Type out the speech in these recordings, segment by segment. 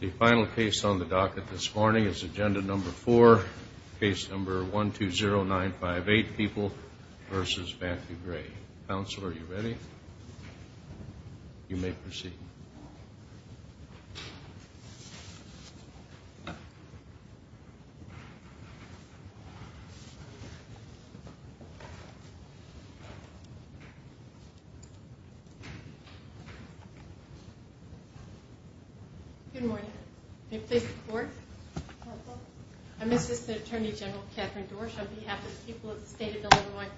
The final case on the docket this morning is agenda number four, case number 120958, People v. Vance v. Gray. Counsel, are you ready? You may proceed. Good morning. I'm Assistant Attorney General Katherine Dorsch on behalf of the people of the state of Illinois.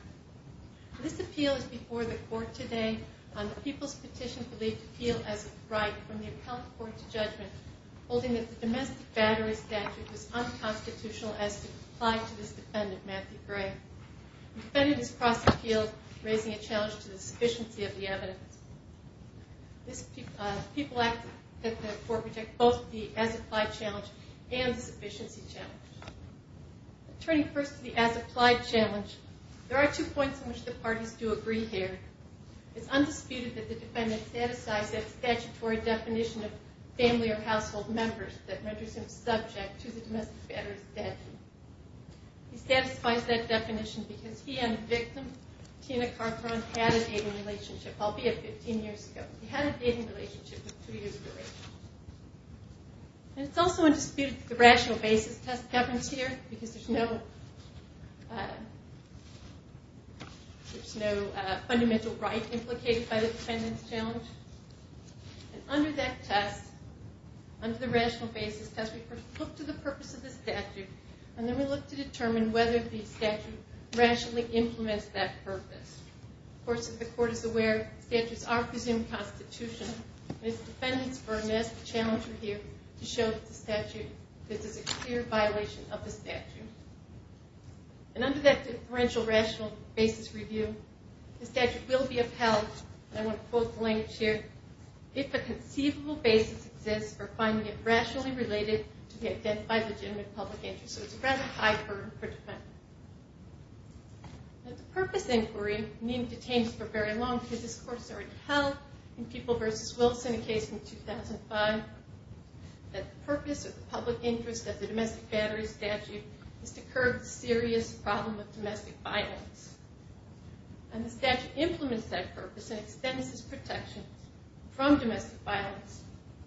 This appeal is before the court today on the People's Petition for the Appeal as a Right from the Appellate Court to Judgment, holding that the domestic battery statute was unconstitutional as applied to this defendant, Matthew Gray. The defendant has crossed the field, raising a challenge to the sufficiency of the evidence. People ask that the court reject both the as-applied challenge and the sufficiency challenge. Turning first to the as-applied challenge, there are two points in which the parties do agree here. It's undisputed that the defendant satisfies that statutory definition of family or household members that renders him subject to the domestic battery statute. He satisfies that definition because he and the victim, Tina Carperon, had a dating relationship, albeit 15 years ago. He had a dating relationship with three years of age. It's also undisputed that the rational basis test governs here because there's no fundamental right implicated by the defendant's challenge. Under that test, under the rational basis test, we first look to the purpose of the statute, and then we look to determine whether the statute rationally implements that purpose. Of course, if the court is aware, statutes are presumed constitutional, and it's the defendant's burden as the challenger here to show that this is a clear violation of the statute. And under that differential rational basis review, the statute will be upheld, and I want to quote the language here, if a conceivable basis exists for finding it rationally related to the identified legitimate public interest. So it's a rather high burden for the defendant. The purpose inquiry, meaning detainment for very long, because this court has already held in People v. Wilson, a case from 2005, that the purpose of the public interest of the domestic battery statute is to curb the serious problem of domestic violence. And the statute implements that purpose and extends its protection from domestic violence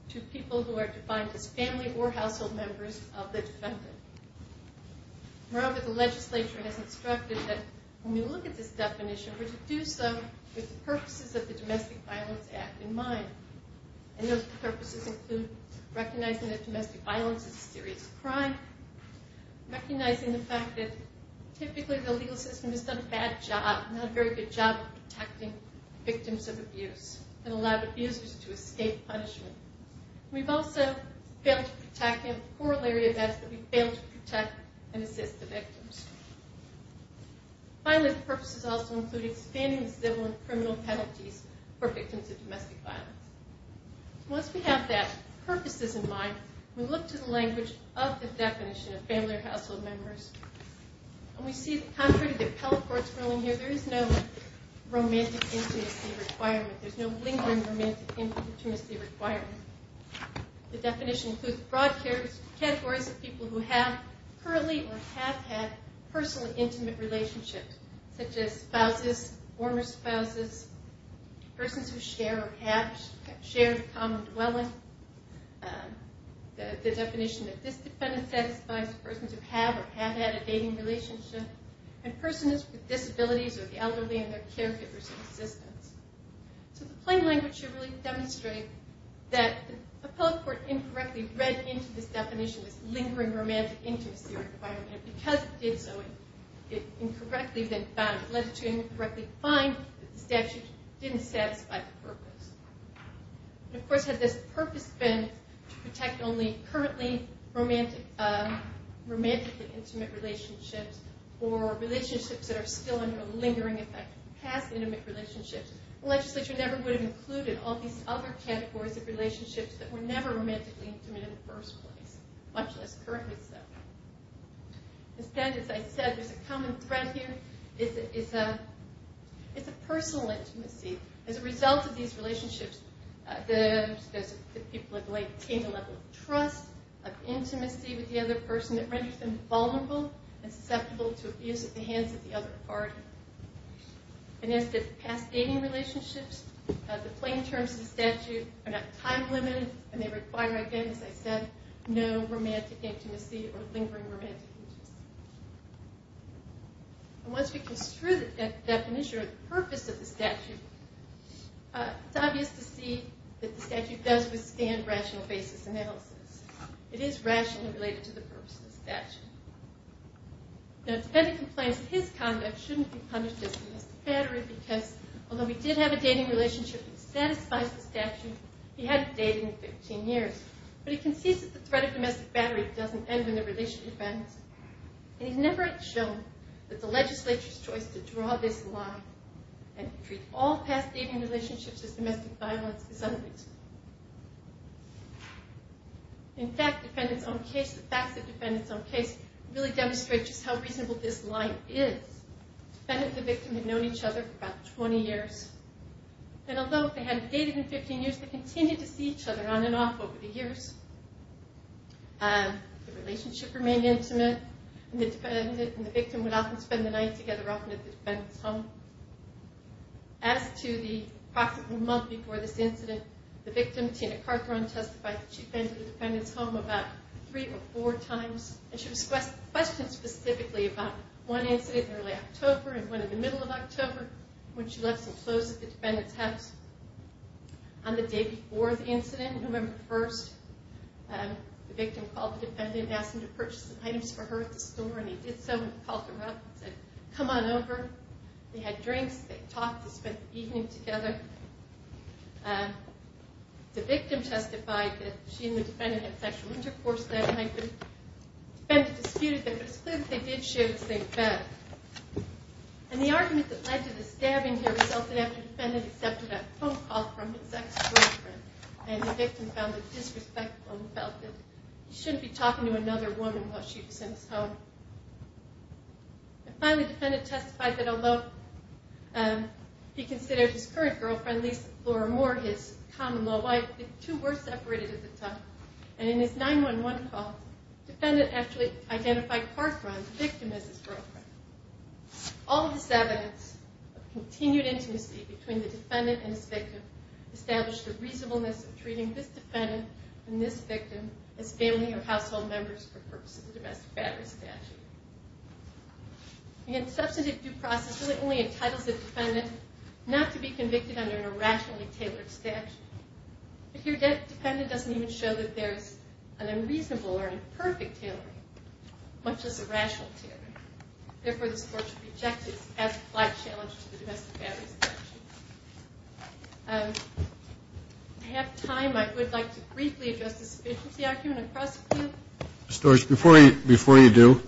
to people who are defined as family or household members of the defendant. Moreover, the legislature has instructed that when we look at this definition, we're to do so with the purposes of the Domestic Violence Act in mind. And those purposes include recognizing that domestic violence is a serious crime, recognizing the fact that typically the legal system has done a bad job, not a very good job, of protecting victims of abuse and allowed abusers to escape punishment. We've also failed to protect and assist the victims. Finally, the purposes also include expanding the civil and criminal penalties for victims of domestic violence. Once we have that purposes in mind, we look to the language of the definition of family or household members, and we see that contrary to the appellate court's ruling here, there is no romantic intimacy requirement. The definition includes broad categories of people who have currently or have had personal intimate relationships, such as spouses, former spouses, persons who share or have shared common dwelling. The definition of this defendant satisfies persons who have or have had a dating relationship, and persons with disabilities or the elderly and their caregivers in existence. So the plain language should really demonstrate that the appellate court incorrectly read into this definition, this lingering romantic intimacy requirement, and because it did so, it incorrectly then found, it led to incorrectly find that the statute didn't satisfy the purpose. Of course, had this purpose been to protect only currently romantically intimate relationships or relationships that are still under a lingering effect of past intimate relationships, the legislature never would have included all these other categories of relationships that were never romantically intimate in the first place, much less currently so. Instead, as I said, there's a common thread here. It's a personal intimacy. As a result of these relationships, the people have maintained a level of trust, of intimacy with the other person that renders them vulnerable and susceptible to abuse at the hands of the other party. And as to past dating relationships, the plain terms of the statute are not time-limited, and they require, again, as I said, no romantic intimacy or lingering romantic intimacy. And once we construe that definition or the purpose of the statute, it's obvious to see that the statute does withstand rational basis analysis. It is rationally related to the purpose of the statute. Now, Defendant complains that his conduct shouldn't be punished as domestic battery because, although he did have a dating relationship that satisfies the statute, he hadn't dated in 15 years. But he concedes that the threat of domestic battery doesn't end in the release of defendants, and he's never shown that the legislature's choice to draw this line and treat all past dating relationships as domestic violence is unreasonable. In fact, the facts of Defendant's own case really demonstrate just how reasonable this line is. Defendant and the victim had known each other for about 20 years, and although they hadn't dated in 15 years, they continued to see each other on and off over the years. The relationship remained intimate, and the victim would often spend the night together often at the Defendant's home. As to the month before this incident, the victim, Tina Cartharine, testified that she'd been to the Defendant's home about three or four times. And she was questioned specifically about one incident in early October and one in the middle of October when she left some clothes at the Defendant's house. On the day before the incident, November 1st, the victim called the Defendant and asked him to purchase some items for her at the store. And he did so and called her up and said, come on over. They had drinks, they talked, they spent the evening together. The victim testified that she and the Defendant had sexual intercourse that night. The Defendant disputed that, but it's clear that they did share the same bed. And the argument that led to the stabbing here resulted after the Defendant accepted a phone call from his ex-girlfriend. And the victim found it disrespectful and felt that he shouldn't be talking to another woman while she was in his home. And finally, the Defendant testified that although he considered his current girlfriend, Lisa Flora Moore, his common-law wife, the two were separated at the time. And in his 9-1-1 call, the Defendant actually identified Park Run, the victim, as his girlfriend. All of this evidence of continued intimacy between the Defendant and his victim established the reasonableness of treating this Defendant and this victim as family or household members for purposes of the domestic battery statute. Again, substantive due process really only entitles the Defendant not to be convicted under an irrationally tailored statute. If your Defendant doesn't even show that there's an unreasonable or imperfect tailoring, much less a rational tailoring, therefore this Court should reject it as a flag challenge to the domestic battery statute. I have time. I would like to briefly address the sufficiency argument across the field. Mr. Storch, before you do,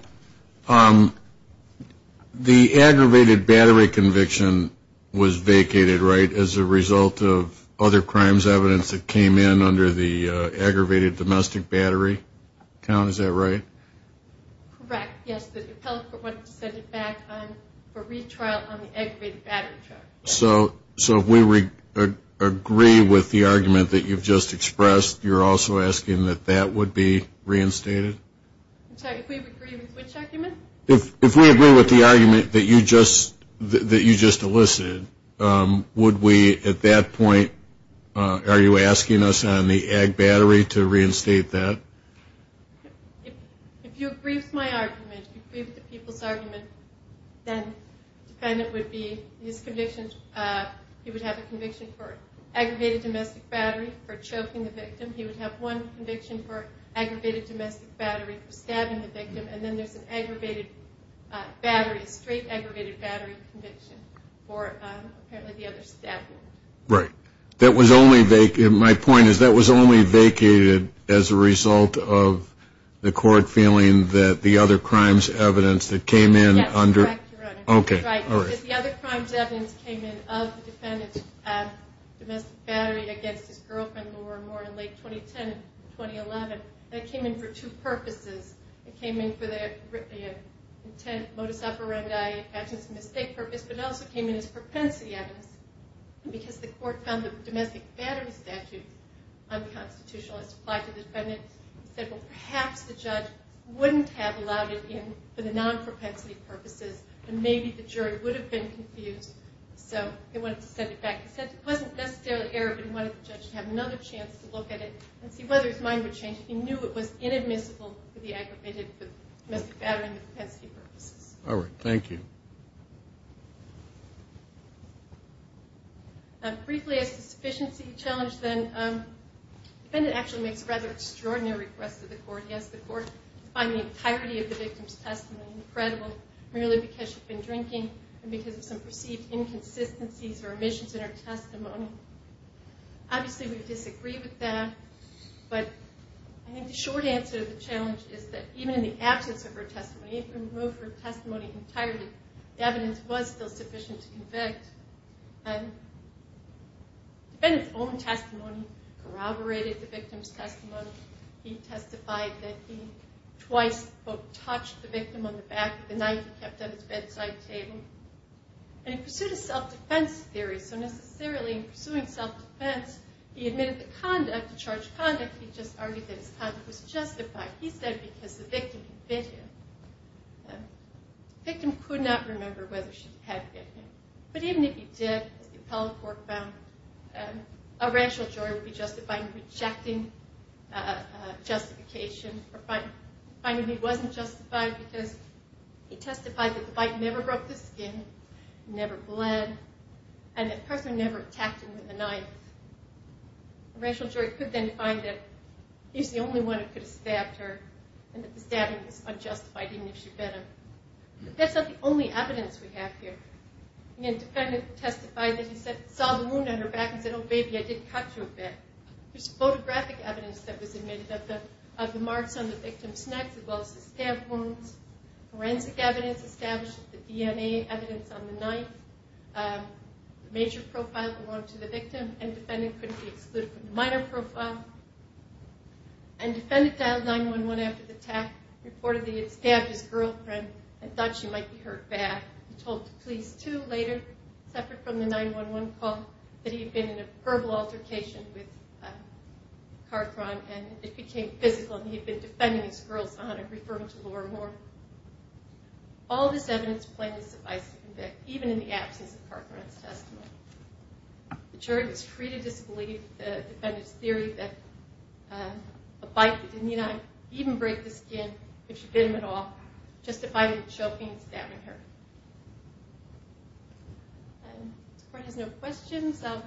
the aggravated battery conviction was vacated, right, as a result of other crimes evidence that came in under the aggravated domestic battery count? Is that right? Correct, yes. The appellate court wanted to set it back for retrial on the aggravated battery charge. So if we agree with the argument that you've just expressed, you're also asking that that would be reinstated? If we agree with which argument? If we agree with the argument that you just elicited, would we at that point, are you asking us on the ag battery to reinstate that? If you agree with my argument, if you agree with the people's argument, then the Defendant would have a conviction for aggravated domestic battery for choking the victim, he would have one conviction for aggravated domestic battery for stabbing the victim, and then there's an aggravated battery, a straight aggravated battery conviction for apparently the other stabbing. Right. That was only vacated, my point is that was only vacated as a result of the court feeling that the other crimes evidence that came in under... Yes, that's correct, Your Honor. Okay, all right. Because the other crimes evidence came in of the Defendant's domestic battery against his girlfriend, Laura Moore, in late 2010 and 2011. That came in for two purposes. It came in for the intent, modus operandi, actions of mistake purpose, but it also came in as propensity evidence. Because the court found the domestic battery statute unconstitutional, it's applied to the Defendant. It said, well, perhaps the judge wouldn't have allowed it in for the non-propensity purposes, and maybe the jury would have been confused. So they wanted to set it back. It wasn't necessarily error, but he wanted the judge to have another chance to look at it and see whether his mind would change if he knew it was inadmissible for the aggravated domestic battery and the propensity purposes. All right, thank you. Briefly, as to the sufficiency challenge, then, the Defendant actually makes a rather extraordinary request to the court. He asks the court to find the entirety of the victim's testimony credible merely because she'd been drinking and because of some perceived inconsistencies or omissions in her testimony. Obviously, we disagree with that, but I think the short answer to the challenge is that even in the absence of her testimony, even if we remove her testimony entirely, the evidence was still sufficient to convict. The Defendant's own testimony corroborated the victim's testimony. He testified that he twice both touched the victim on the back of the night he kept at his bedside table. And he pursued a self-defense theory, so necessarily in pursuing self-defense, he admitted the conduct, the charged conduct, he just argued that his conduct was justified. He said because the victim had bit him. The victim could not remember whether she had bit him. But even if he did, as the appellate court found, a racial jury would be justified in rejecting justification or finding he wasn't justified because he testified that the bite never broke the skin, never bled, and the person never attacked him with a knife. A racial jury could then find that he's the only one who could have stabbed her and that the stabbing was unjustified even if she bit him. But that's not the only evidence we have here. The Defendant testified that he saw the wound on her back and said, oh baby, I did cut you a bit. There's photographic evidence that was admitted of the marks on the victim's neck as well as the stab wounds. Forensic evidence establishes the DNA evidence on the knife. The major profile belonged to the victim and the Defendant couldn't be excluded from the minor profile. And Defendant dialed 9-1-1 after the attack, reported that he had stabbed his girlfriend and thought she might be hurt bad. He told the police too later, separate from the 9-1-1 call, that he had been in a verbal altercation with Carthron and it became physical and he had been defending his girl's honor, referring to Laura Moore. All of this evidence plainly suffices to convict even in the absence of Carthron's testimony. The jury was free to disbelieve the Defendant's theory that a bite that didn't even break the skin, if she bit him at all, justified him choking and stabbing her. If the Court has no questions, I'll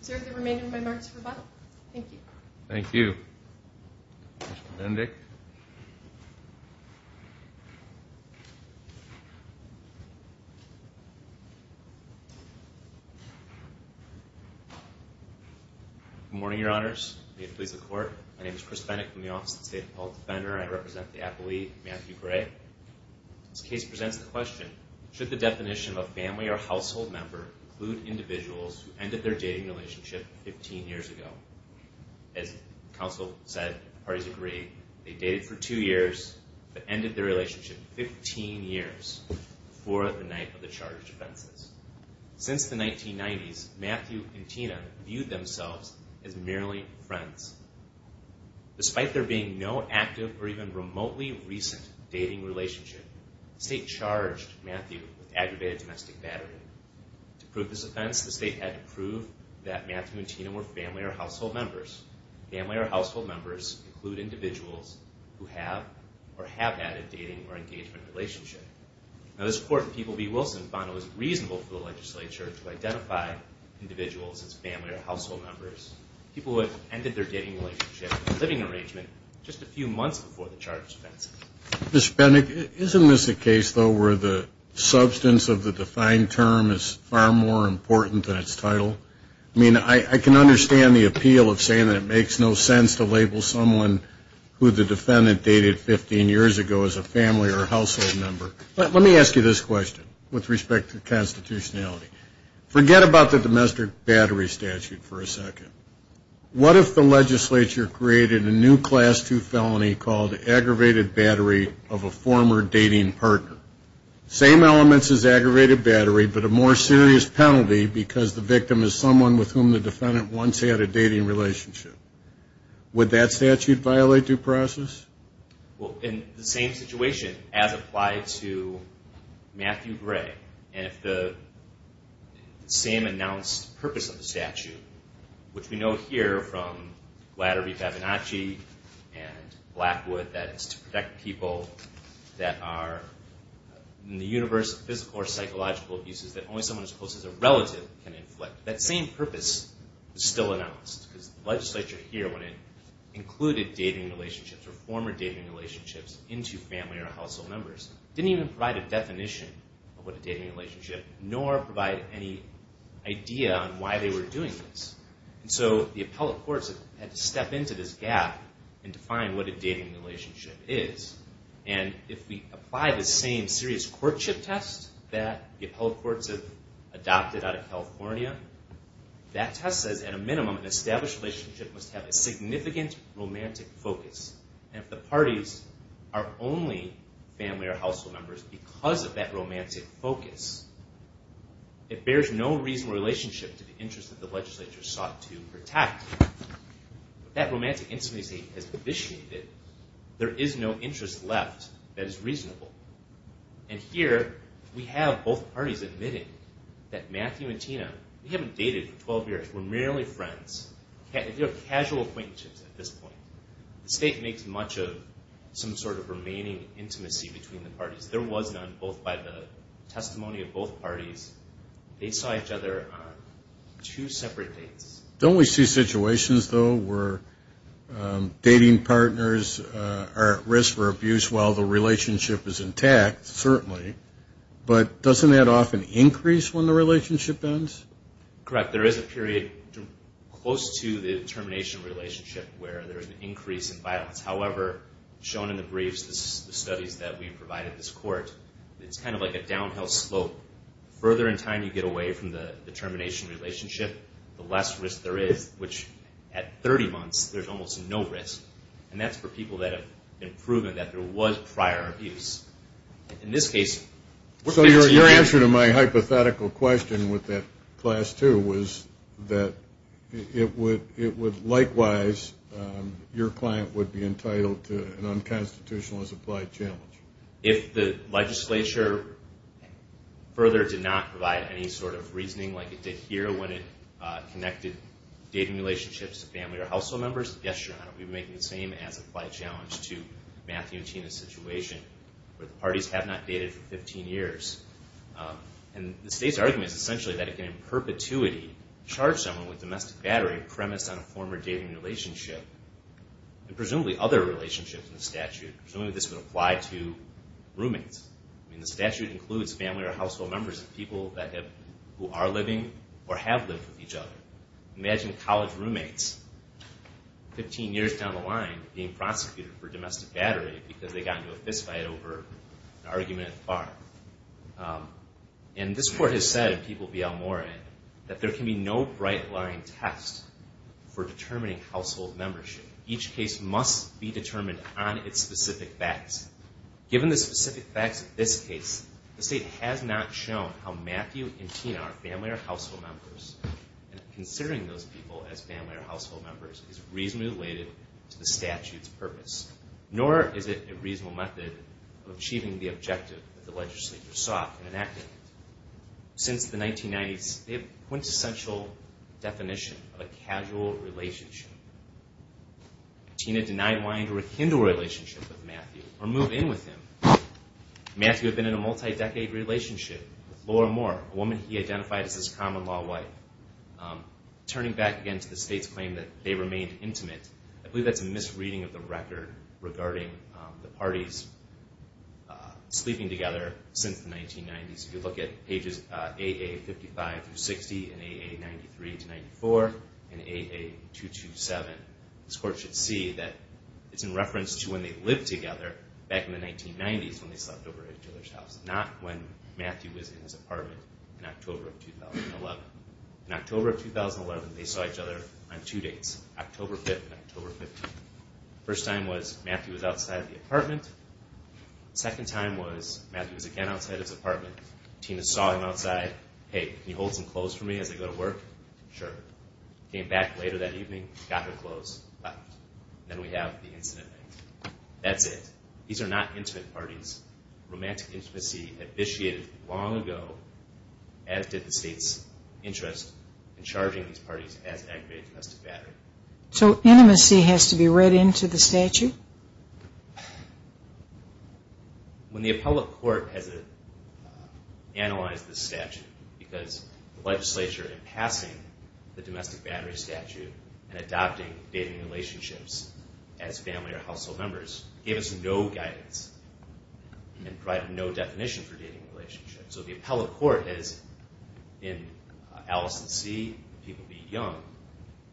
reserve the remainder of my remarks for rebuttal. Thank you. Thank you. Mr. Bendick. Good morning, Your Honors. May it please the Court. My name is Chris Bendick from the Office of the State Appellate Defender. I represent the appellee, Matthew Gray. This case presents the question, should the definition of a family or household member include individuals who ended their dating relationship 15 years ago? As counsel said, parties agree, they dated for two years, but ended their relationship 15 years before the night of the charged offenses. Since the 1990s, Matthew and Tina viewed themselves as merely friends. Despite there being no active or even remotely recent dating relationship, the State charged Matthew with aggravated domestic battery. To prove this offense, the State had to prove that Matthew and Tina were family or household members. Family or household members include individuals who have or have had a dating or engagement relationship. Now, this Court in People v. Wilson found it was reasonable for the legislature to identify individuals as family or household members, people who had ended their dating relationship in a living arrangement just a few months before the charged offense. Mr. Bendick, isn't this a case, though, where the substance of the defined term is far more important than its title? I mean, I can understand the appeal of saying that it makes no sense to label someone who the defendant dated 15 years ago as a family or household member. But let me ask you this question with respect to constitutionality. Forget about the domestic battery statute for a second. What if the legislature created a new Class II felony called aggravated battery of a former dating partner? Same elements as aggravated battery, but a more serious penalty because the victim is someone with whom the defendant once had a dating relationship. Would that statute violate due process? Well, in the same situation, as applied to Matthew Gray, and if the same announced purpose of the statute, which we know here from Glatter v. Fabinacci and Blackwood, that is, to protect people that are in the universe of physical or psychological abuses that only someone as close as a relative can inflict, that same purpose is still announced. Because the legislature here, when it included dating relationships or former dating relationships into family or household members, didn't even provide a definition of what a dating relationship, nor provide any idea on why they were doing this. And so the appellate courts had to step into this gap and define what a dating relationship is. And if we apply the same serious courtship test that the appellate courts have adopted out of California, that test says, at a minimum, an established relationship must have a significant romantic focus. And if the parties are only family or household members because of that romantic focus, it bears no reasonable relationship to the interests that the legislature sought to protect. If that romantic intimacy has vitiated, there is no interest left that is reasonable. And here, we have both parties admitting that Matthew and Tina, we haven't dated for 12 years, we're merely friends. They're casual acquaintances at this point. The state makes much of some sort of remaining intimacy between the parties. There was none, both by the testimony of both parties. They saw each other on two separate dates. Don't we see situations, though, where dating partners are at risk for abuse while the relationship is intact? Certainly. But doesn't that often increase when the relationship ends? Correct. There is a period close to the termination relationship where there is an increase in violence. However, shown in the briefs, the studies that we provided this court, it's kind of like a downhill slope. The further in time you get away from the termination relationship, the less risk there is, which at 30 months, there's almost no risk. And that's for people that have been proven that there was prior abuse. So your answer to my hypothetical question with that class two was that it would likewise, your client would be entitled to an unconstitutional as applied challenge. If the legislature further did not provide any sort of reasoning like it did here when it connected dating relationships to family or household members, we would be making the same as applied challenge to Matthew and Tina's situation where the parties have not dated for 15 years. And the state's argument is essentially that it can, in perpetuity, charge someone with domestic battery premised on a former dating relationship and presumably other relationships in the statute. Presumably this would apply to roommates. I mean, the statute includes family or household members of people who are living or have lived with each other. Imagine college roommates 15 years down the line being prosecuted for domestic battery because they got into a fist fight over an argument at the bar. And this court has said, and people will be all more in, that there can be no bright line test for determining household membership. Each case must be determined on its specific facts. Given the specific facts of this case, the state has not shown how Matthew and Tina, family or household members, and considering those people as family or household members, is reasonably related to the statute's purpose. Nor is it a reasonable method of achieving the objective that the legislature sought in enacting it. Since the 1990s, they have a quintessential definition of a casual relationship. Tina denied wanting to rekindle her relationship with Matthew or move in with him. Matthew had been in a multi-decade relationship with Laura Moore, a woman he identified as his common-law wife. Turning back again to the state's claim that they remained intimate, I believe that's a misreading of the record regarding the parties sleeping together since the 1990s. If you look at pages AA55-60 and AA93-94 and AA227, this court should see that it's in reference to when they lived together back in the 1990s when they slept over at each other's house, not when Matthew was in his apartment in October of 2011. In October of 2011, they saw each other on two dates, October 5th and October 15th. First time was Matthew was outside the apartment. Second time was Matthew was again outside his apartment. Tina saw him outside. Hey, can you hold some clothes for me as I go to work? Sure. Came back later that evening, got her clothes, left. Then we have the incident. That's it. These are not intimate parties. Romantic intimacy initiated long ago, as did the state's interest in charging these parties as aggravated domestic battery. So intimacy has to be read into the statute? When the appellate court has analyzed the statute, because the legislature, in passing the domestic battery statute and adopting dating relationships as family or household members, gave us no guidance and provided no definition for dating relationships. So the appellate court has, in Allison C., People Be Young,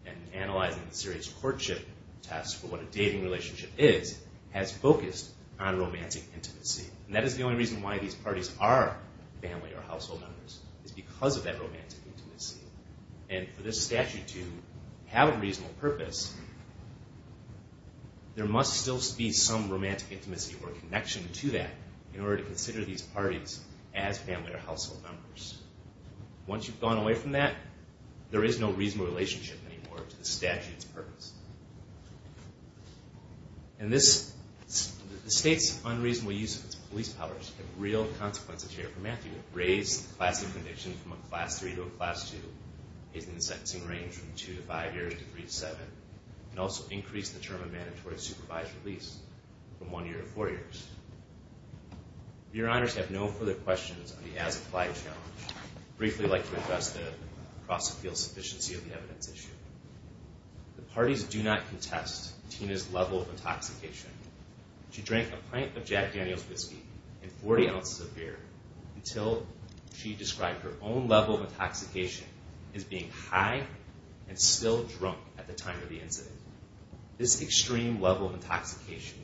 and analyzing the serious courtship test for what a dating relationship is, has focused on romantic intimacy. And that is the only reason why these parties are family or household members, is because of that romantic intimacy. And for this statute to have a reasonable purpose, there must still be some romantic intimacy or connection to that in order to consider these parties as family or household members. Once you've gone away from that, there is no reasonable relationship anymore to the statute's purpose. And the state's unreasonable use of its police powers have real consequences here for Matthew. Raise the class of conviction from a class 3 to a class 2, increase the sentencing range from 2 to 5 years to 3 to 7, and also increase the term of mandatory supervised release from 1 year to 4 years. If your honors have no further questions on the as-applied challenge, I'd briefly like to address the cross-appeal sufficiency of the evidence issue. The parties do not contest Tina's level of intoxication. She drank a pint of Jack Daniel's whiskey and 40 ounces of beer until she described her own level of intoxication as being high and still drunk at the time of the incident. This extreme level of intoxication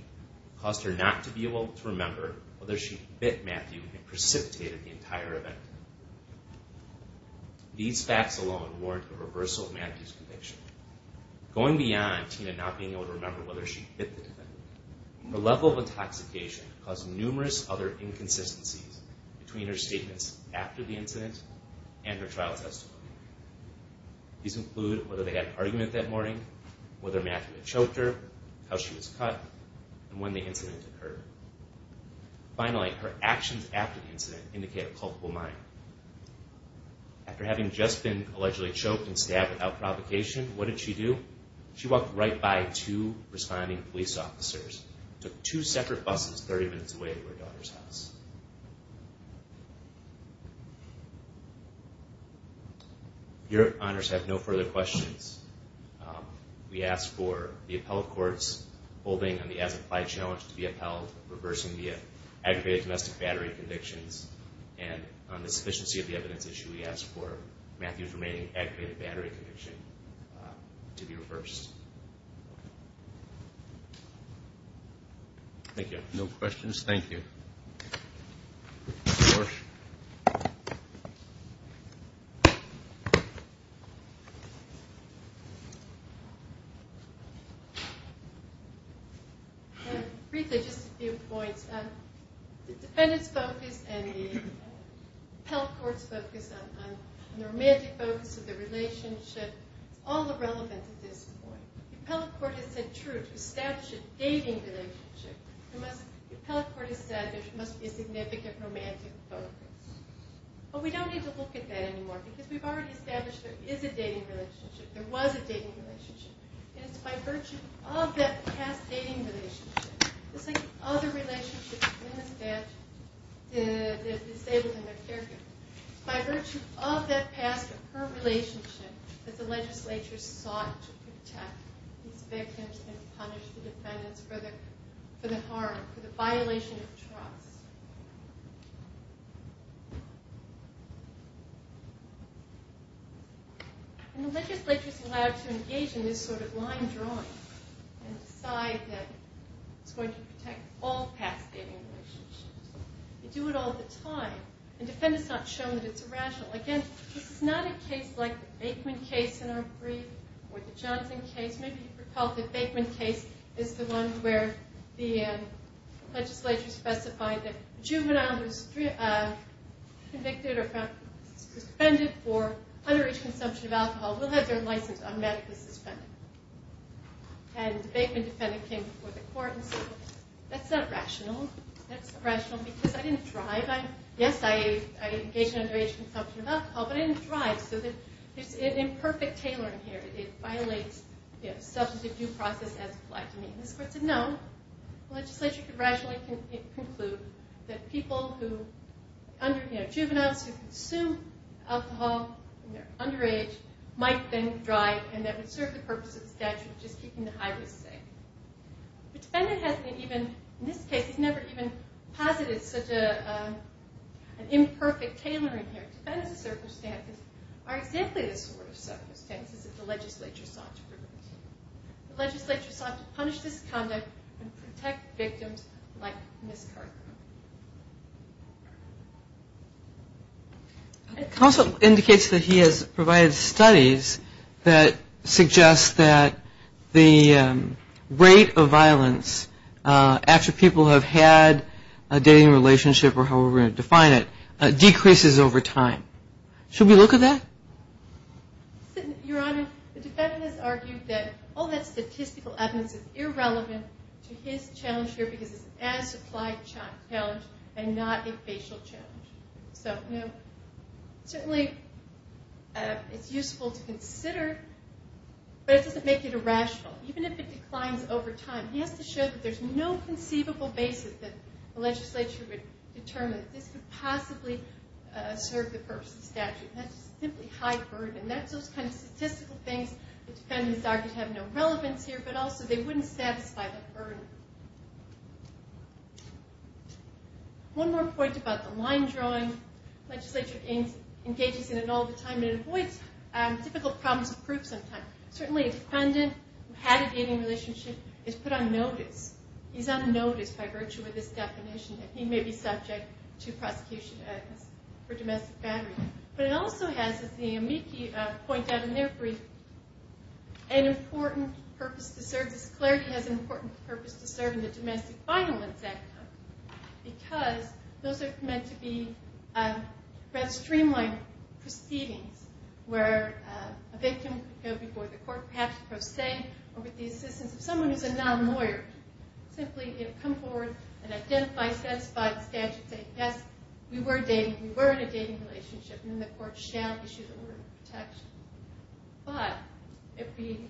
caused her not to be able to remember whether she bit Matthew and precipitated the entire event. These facts alone warrant a reversal of Matthew's conviction. Going beyond Tina not being able to remember whether she bit the defendant, her level of intoxication caused numerous other inconsistencies between her statements after the incident and her trial testimony. These include whether they had an argument that morning, whether Matthew had choked her, how she was cut, and when the incident occurred. Finally, her actions after the incident indicate a culpable mind. After having just been allegedly choked and stabbed without provocation, what did she do? She walked right by two responding police officers, took two separate buses 30 minutes away to her daughter's house. Your honors have no further questions. We ask for the appellate courts holding on the as-applied challenge to be upheld, reversing the aggravated domestic battery convictions, and on the sufficiency of the evidence issue, we ask for Matthew's remaining aggravated battery conviction to be reversed. Thank you. No questions, thank you. Motion. Briefly, just a few points. The defendant's focus and the appellate court's focus on the romantic focus of the relationship is all irrelevant at this point. The appellate court has said true to establish a dating relationship. The appellate court has said there must be a significant romantic focus. But we don't need to look at that anymore, because we've already established there is a dating relationship, there was a dating relationship, and it's by virtue of that past dating relationship, just like all the relationships of women and staff, the disabled and their caregivers, by virtue of that past or current relationship, that the legislature sought to protect these victims and punish the defendants for the harm, for the violation of trust. And the legislature's allowed to engage in this sort of line drawing and decide that it's going to protect all past dating relationships. They do it all the time. The defendant's not shown that it's irrational. Again, this is not a case like the Baikman case in our brief or the Johnson case. Maybe you recall the Baikman case is the one where the legislature specified that a juvenile who's convicted or found suspended for underage consumption of alcohol will have their license automatically suspended. And the Baikman defendant came before the court and said, well, that's not rational. That's irrational because I didn't drive. Yes, I engaged in underage consumption of alcohol, but I didn't drive. So there's an imperfect tailoring here. It violates substantive due process as applied to me. And this court said, no, the legislature could rationally conclude that juveniles who consume alcohol when they're underage might then drive, and that would serve the purpose of the statute of just keeping the high-risk safe. The defendant hasn't even, in this case, he's never even posited such an imperfect tailoring here. The defendant's circumstances are exactly the sort of circumstances that the legislature sought to prevent. The legislature sought to punish this conduct and protect victims like Ms. Cartham. It also indicates that he has provided studies that suggest that the rate of violence after people have had a dating relationship, or however we're going to define it, decreases over time. Should we look at that? Your Honor, the defendant has argued that all that statistical evidence is irrelevant to his challenge here because it's an as-applied challenge and not a facial challenge. So, you know, certainly it's useful to consider, but it doesn't make it irrational. Even if it declines over time, he has to show that there's no conceivable basis that the legislature would determine that this could possibly serve the purpose of the statute. That's just simply high burden. That's those kind of statistical things that defendants argue have no relevance here, but also they wouldn't satisfy the burden. One more point about the line drawing. Legislature engages in it all the time, and it avoids difficult problems of proof sometimes. Certainly a defendant who had a dating relationship is put on notice. He's on notice by virtue of this definition that he may be subject to prosecution for domestic battery. But it also has, as the amici point out in their brief, an important purpose to serve. This clarity has an important purpose to serve in the domestic violence act because those are meant to be rather streamlined proceedings where a victim could go before the court, perhaps pro se, or with the assistance of someone who's a non-lawyer. Simply come forward and identify, satisfy the statute, say, yes, we were dating, we were in a dating relationship, and then the court shall issue the order of protection. But if we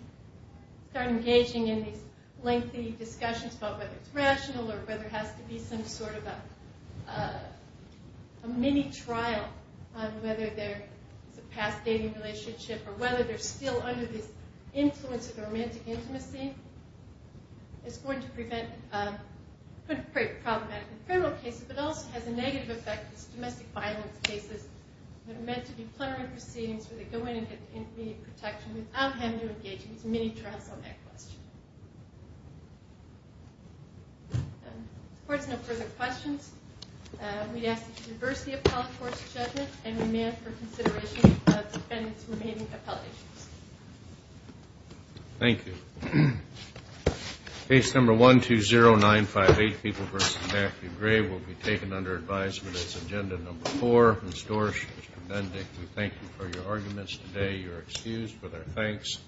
start engaging in these lengthy discussions about whether it's rational or whether it has to be some sort of a mini-trial on whether there's a past dating relationship or whether they're still under this influence of romantic intimacy, it's going to prevent problematic criminal cases, but it also has a negative effect on domestic violence cases that are meant to be plenary proceedings where they go in and get immediate protection without having to engage in these mini-trials on that question. If there's no further questions, we'd ask that you adverse the appellate court's judgment and demand for consideration of the defendant's remaining appellate issues. Thank you. Case number 120958, People v. Matthew Gray, will be taken under advisement as agenda number four. Mr. Dorsch, Mr. Bendick, we thank you for your arguments today. You're excused for their thanks.